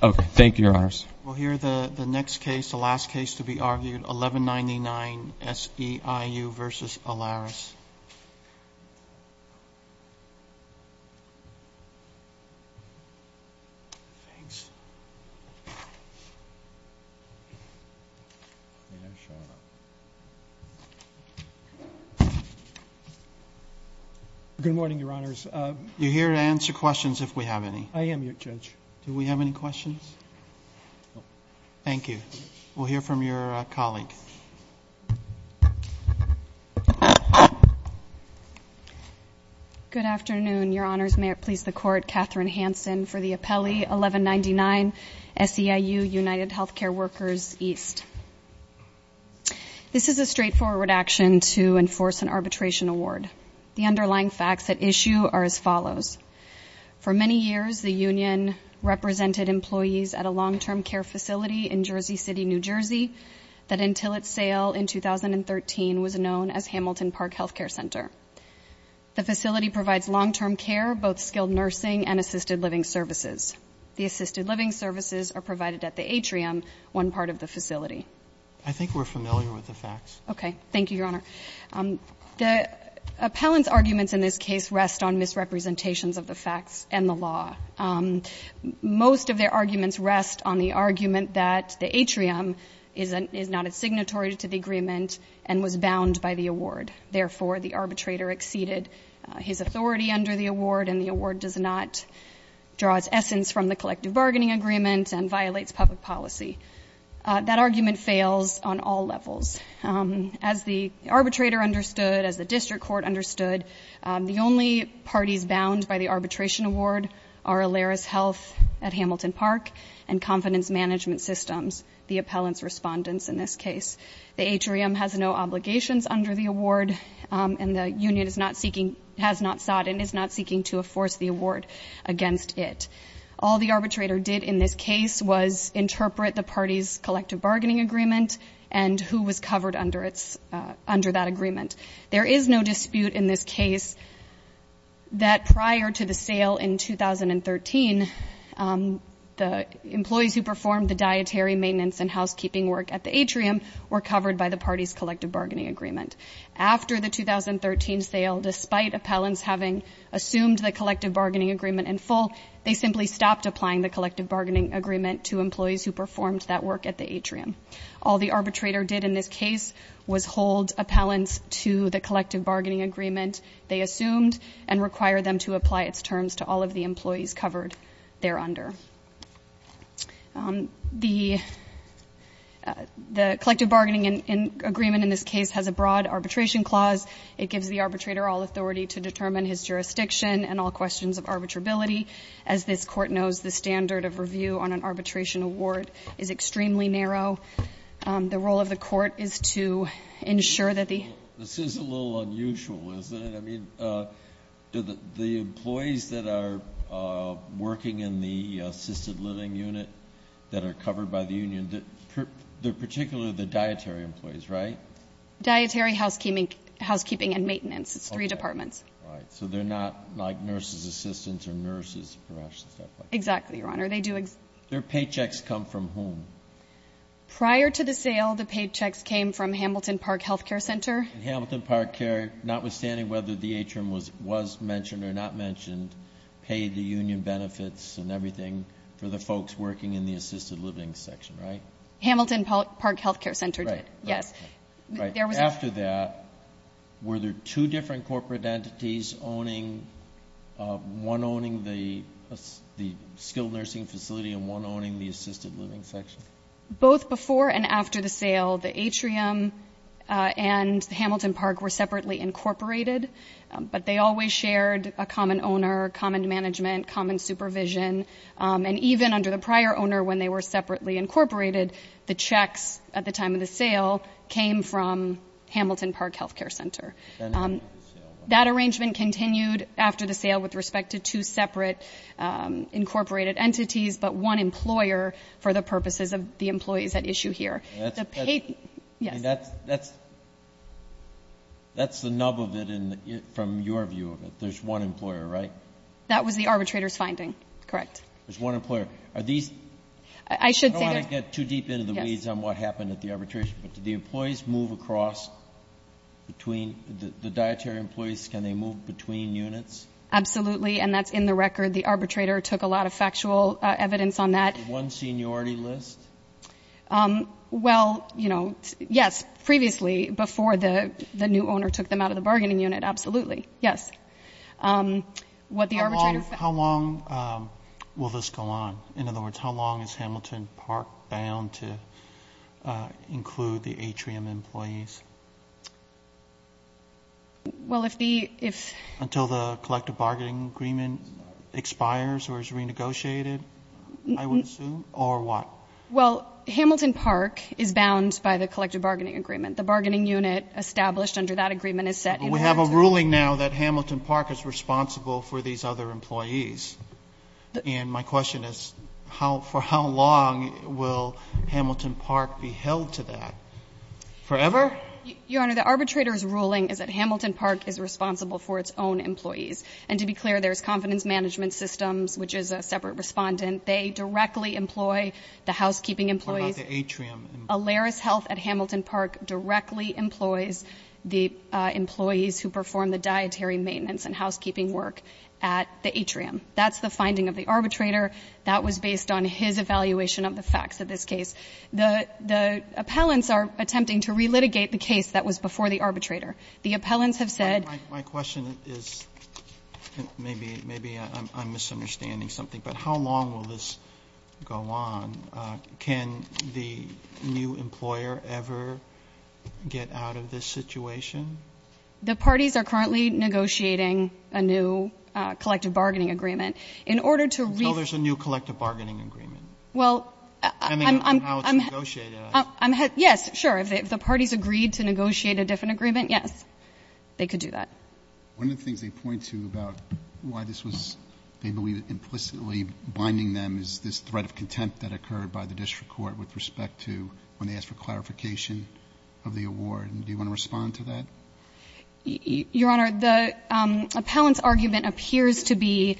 We'll hear the next case, the last case to be argued, 1199 SEIU v. Alaris. Good morning, your honors. You're here to answer questions if we have any. I am, your judge. Do we have any questions? Thank you. We'll hear from your colleague. Good afternoon, your honors. May it please the court, Katherine Hanson for the appellee, 1199 SEIU United Healthcare Workers East. This is a straightforward action to enforce an arbitration award. The underlying facts at issue are as follows. For many years, the union represented employees at a long-term care facility in Jersey City, New Jersey, that until its sale in 2013 was known as Hamilton Park Healthcare Center. The facility provides long-term care, both skilled nursing and assisted living services. The assisted living services are provided at the atrium, one part of the facility. I think we're familiar with the facts. Okay. Thank you, your honor. The appellant's arguments in this case rest on misrepresentations of the facts and the law. Most of their arguments rest on the argument that the atrium is not a signatory to the agreement and was bound by the award. Therefore, the arbitrator exceeded his authority under the award, and the award does not draw its essence from the collective bargaining agreement and violates public policy. That argument fails on all levels. As the arbitrator understood, as the district court understood, the only parties bound by the arbitration award are Eleris Health at Hamilton Park and Confidence Management Systems, the appellant's respondents in this case. The atrium has no obligations under the award, and the union is not seeking, has not sought and is not seeking to enforce the award against it. All the arbitrator did in this case was interpret the party's collective bargaining agreement and who was covered under that agreement. There is no dispute in this case that prior to the sale in 2013, the employees who performed the dietary maintenance and housekeeping work at the atrium were covered by the party's collective bargaining agreement. After the 2013 sale, despite appellants having assumed the collective bargaining agreement in full, they simply stopped applying the collective bargaining agreement to employees who performed that work at the atrium. All the arbitrator did in this case was hold appellants to the collective bargaining agreement they assumed and require them to apply its terms to all of the employees covered thereunder. The collective bargaining agreement in this case has a broad arbitration clause. It gives the arbitrator all authority to determine his jurisdiction and all questions of arbitrability. As this court knows, the standard of review on an arbitration award is extremely narrow. The role of the court is to ensure that the- This is a little unusual, isn't it? I mean, the employees that are working in the assisted living unit that are covered by the union, they're particularly the dietary employees, right? Dietary, housekeeping and maintenance. It's three departments. Right, so they're not like nurses assistants or nurses, perhaps? Exactly, Your Honor. Their paychecks come from whom? Prior to the sale, the paychecks came from Hamilton Park Health Care Center. Hamilton Park Care, notwithstanding whether the atrium was mentioned or not mentioned, paid the union benefits and everything for the folks working in the assisted living section, right? Hamilton Park Health Care Center did, yes. After that, were there two different corporate entities owning, one owning the skilled nursing facility and one owning the assisted living section? Both before and after the sale, the atrium and Hamilton Park were separately incorporated, but they always shared a common owner, common management, common supervision. And even under the prior owner, when they were separately incorporated, the checks at the time of the sale came from Hamilton Park Health Care Center. That arrangement continued after the sale with respect to two separate incorporated entities, but one employer for the purposes of the employees at issue here. That's the nub of it from your view of it. There's one employer, right? That was the arbitrator's finding, correct. There's one employer. I don't want to get too deep into the weeds on what happened at the arbitration, but did the employees move across between the dietary employees? Can they move between units? Absolutely. And that's in the record. The arbitrator took a lot of factual evidence on that. One seniority list? Well, you know, yes. Previously, before the new owner took them out of the bargaining unit, absolutely, yes. How long will this go on? In other words, how long is Hamilton Park bound to include the atrium employees? Well, if the ‑‑ Until the collective bargaining agreement expires or is renegotiated, I would assume, or what? Well, Hamilton Park is bound by the collective bargaining agreement. We have a ruling now that Hamilton Park is responsible for these other employees. And my question is, for how long will Hamilton Park be held to that? Forever? Your Honor, the arbitrator's ruling is that Hamilton Park is responsible for its own employees. And to be clear, there's confidence management systems, which is a separate respondent. They directly employ the housekeeping employees. What about the atrium employees? The atrium employees at Hamilton Park directly employs the employees who perform the dietary maintenance and housekeeping work at the atrium. That's the finding of the arbitrator. That was based on his evaluation of the facts of this case. The appellants are attempting to relitigate the case that was before the arbitrator. The appellants have said ‑‑ My question is, maybe I'm misunderstanding something, but how long will this go on? Can the new employer ever get out of this situation? The parties are currently negotiating a new collective bargaining agreement. In order to ‑‑ Until there's a new collective bargaining agreement. Well, I'm ‑‑ Depending on how it's negotiated. Yes, sure. If the parties agreed to negotiate a different agreement, yes, they could do that. One of the things they point to about why this was, they believe, implicitly blinding them is this threat of contempt that occurred by the district court with respect to when they asked for clarification of the award. Do you want to respond to that? Your Honor, the appellant's argument appears to be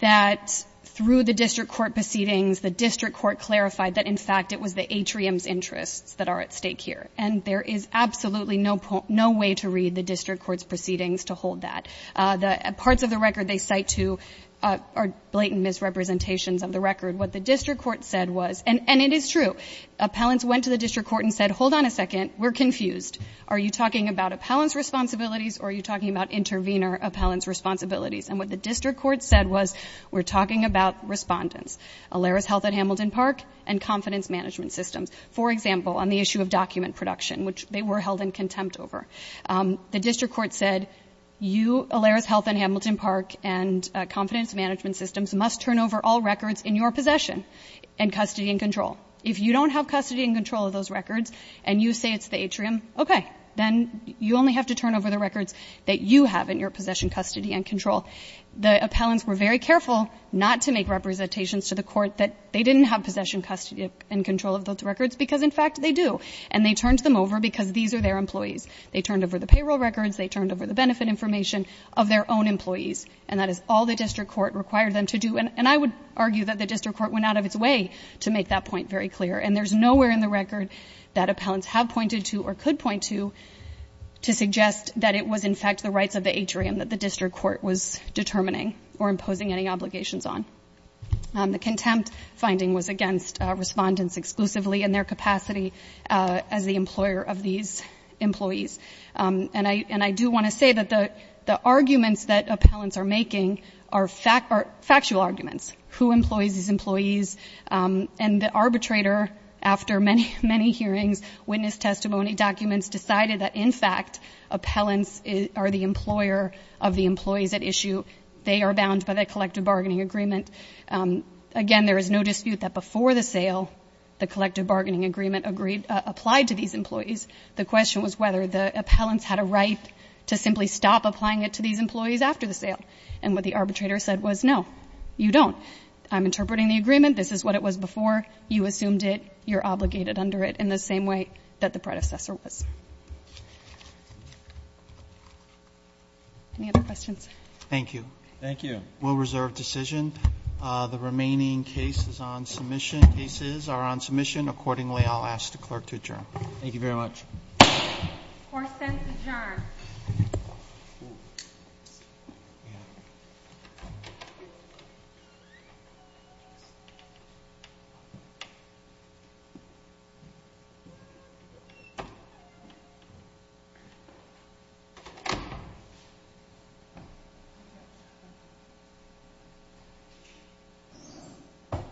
that through the district court proceedings, the district court clarified that, in fact, it was the atrium's interests that are at stake here. And there is absolutely no way to read the district court's proceedings to hold that. The parts of the record they cite to are blatant misrepresentations of the record. What the district court said was, and it is true, appellants went to the district court and said, hold on a second, we're confused. Are you talking about appellant's responsibilities or are you talking about intervener appellant's responsibilities? And what the district court said was, we're talking about respondents. Alera's Health at Hamilton Park and Confidence Management Systems, for example, on the issue of document production, which they were held in contempt over. The district court said, you, Alera's Health at Hamilton Park, and Confidence Management Systems must turn over all records in your possession and custody and control. If you don't have custody and control of those records and you say it's the atrium, okay. Then you only have to turn over the records that you have in your possession, custody, and control. The appellants were very careful not to make representations to the court that they didn't have possession, custody, and control of those records, because, in fact, they do. And they turned them over because these are their employees. They turned over the payroll records. They turned over the benefit information of their own employees. And that is all the district court required them to do. And I would argue that the district court went out of its way to make that point very clear. And there's nowhere in the record that appellants have pointed to or could point to to suggest that it was, in fact, the rights of the atrium that the district court was determining or imposing any obligations on. The contempt finding was against respondents exclusively in their capacity as the employer of these employees. And I do want to say that the arguments that appellants are making are factual arguments. Who employs these employees? And the arbitrator, after many, many hearings, witness testimony, documents decided that, in fact, appellants are the employer of the employees at issue. They are bound by the collective bargaining agreement. Again, there is no dispute that before the sale, the collective bargaining agreement applied to these employees. The question was whether the appellants had a right to simply stop applying it to these employees after the sale. And what the arbitrator said was, no, you don't. I'm interpreting the agreement. This is what it was before. You assumed it. You're obligated under it in the same way that the predecessor was. Any other questions? Thank you. Thank you. We'll reserve decision. The remaining cases are on submission. Accordingly, I'll ask the clerk to adjourn. Thank you very much. Court is adjourned. Thank you.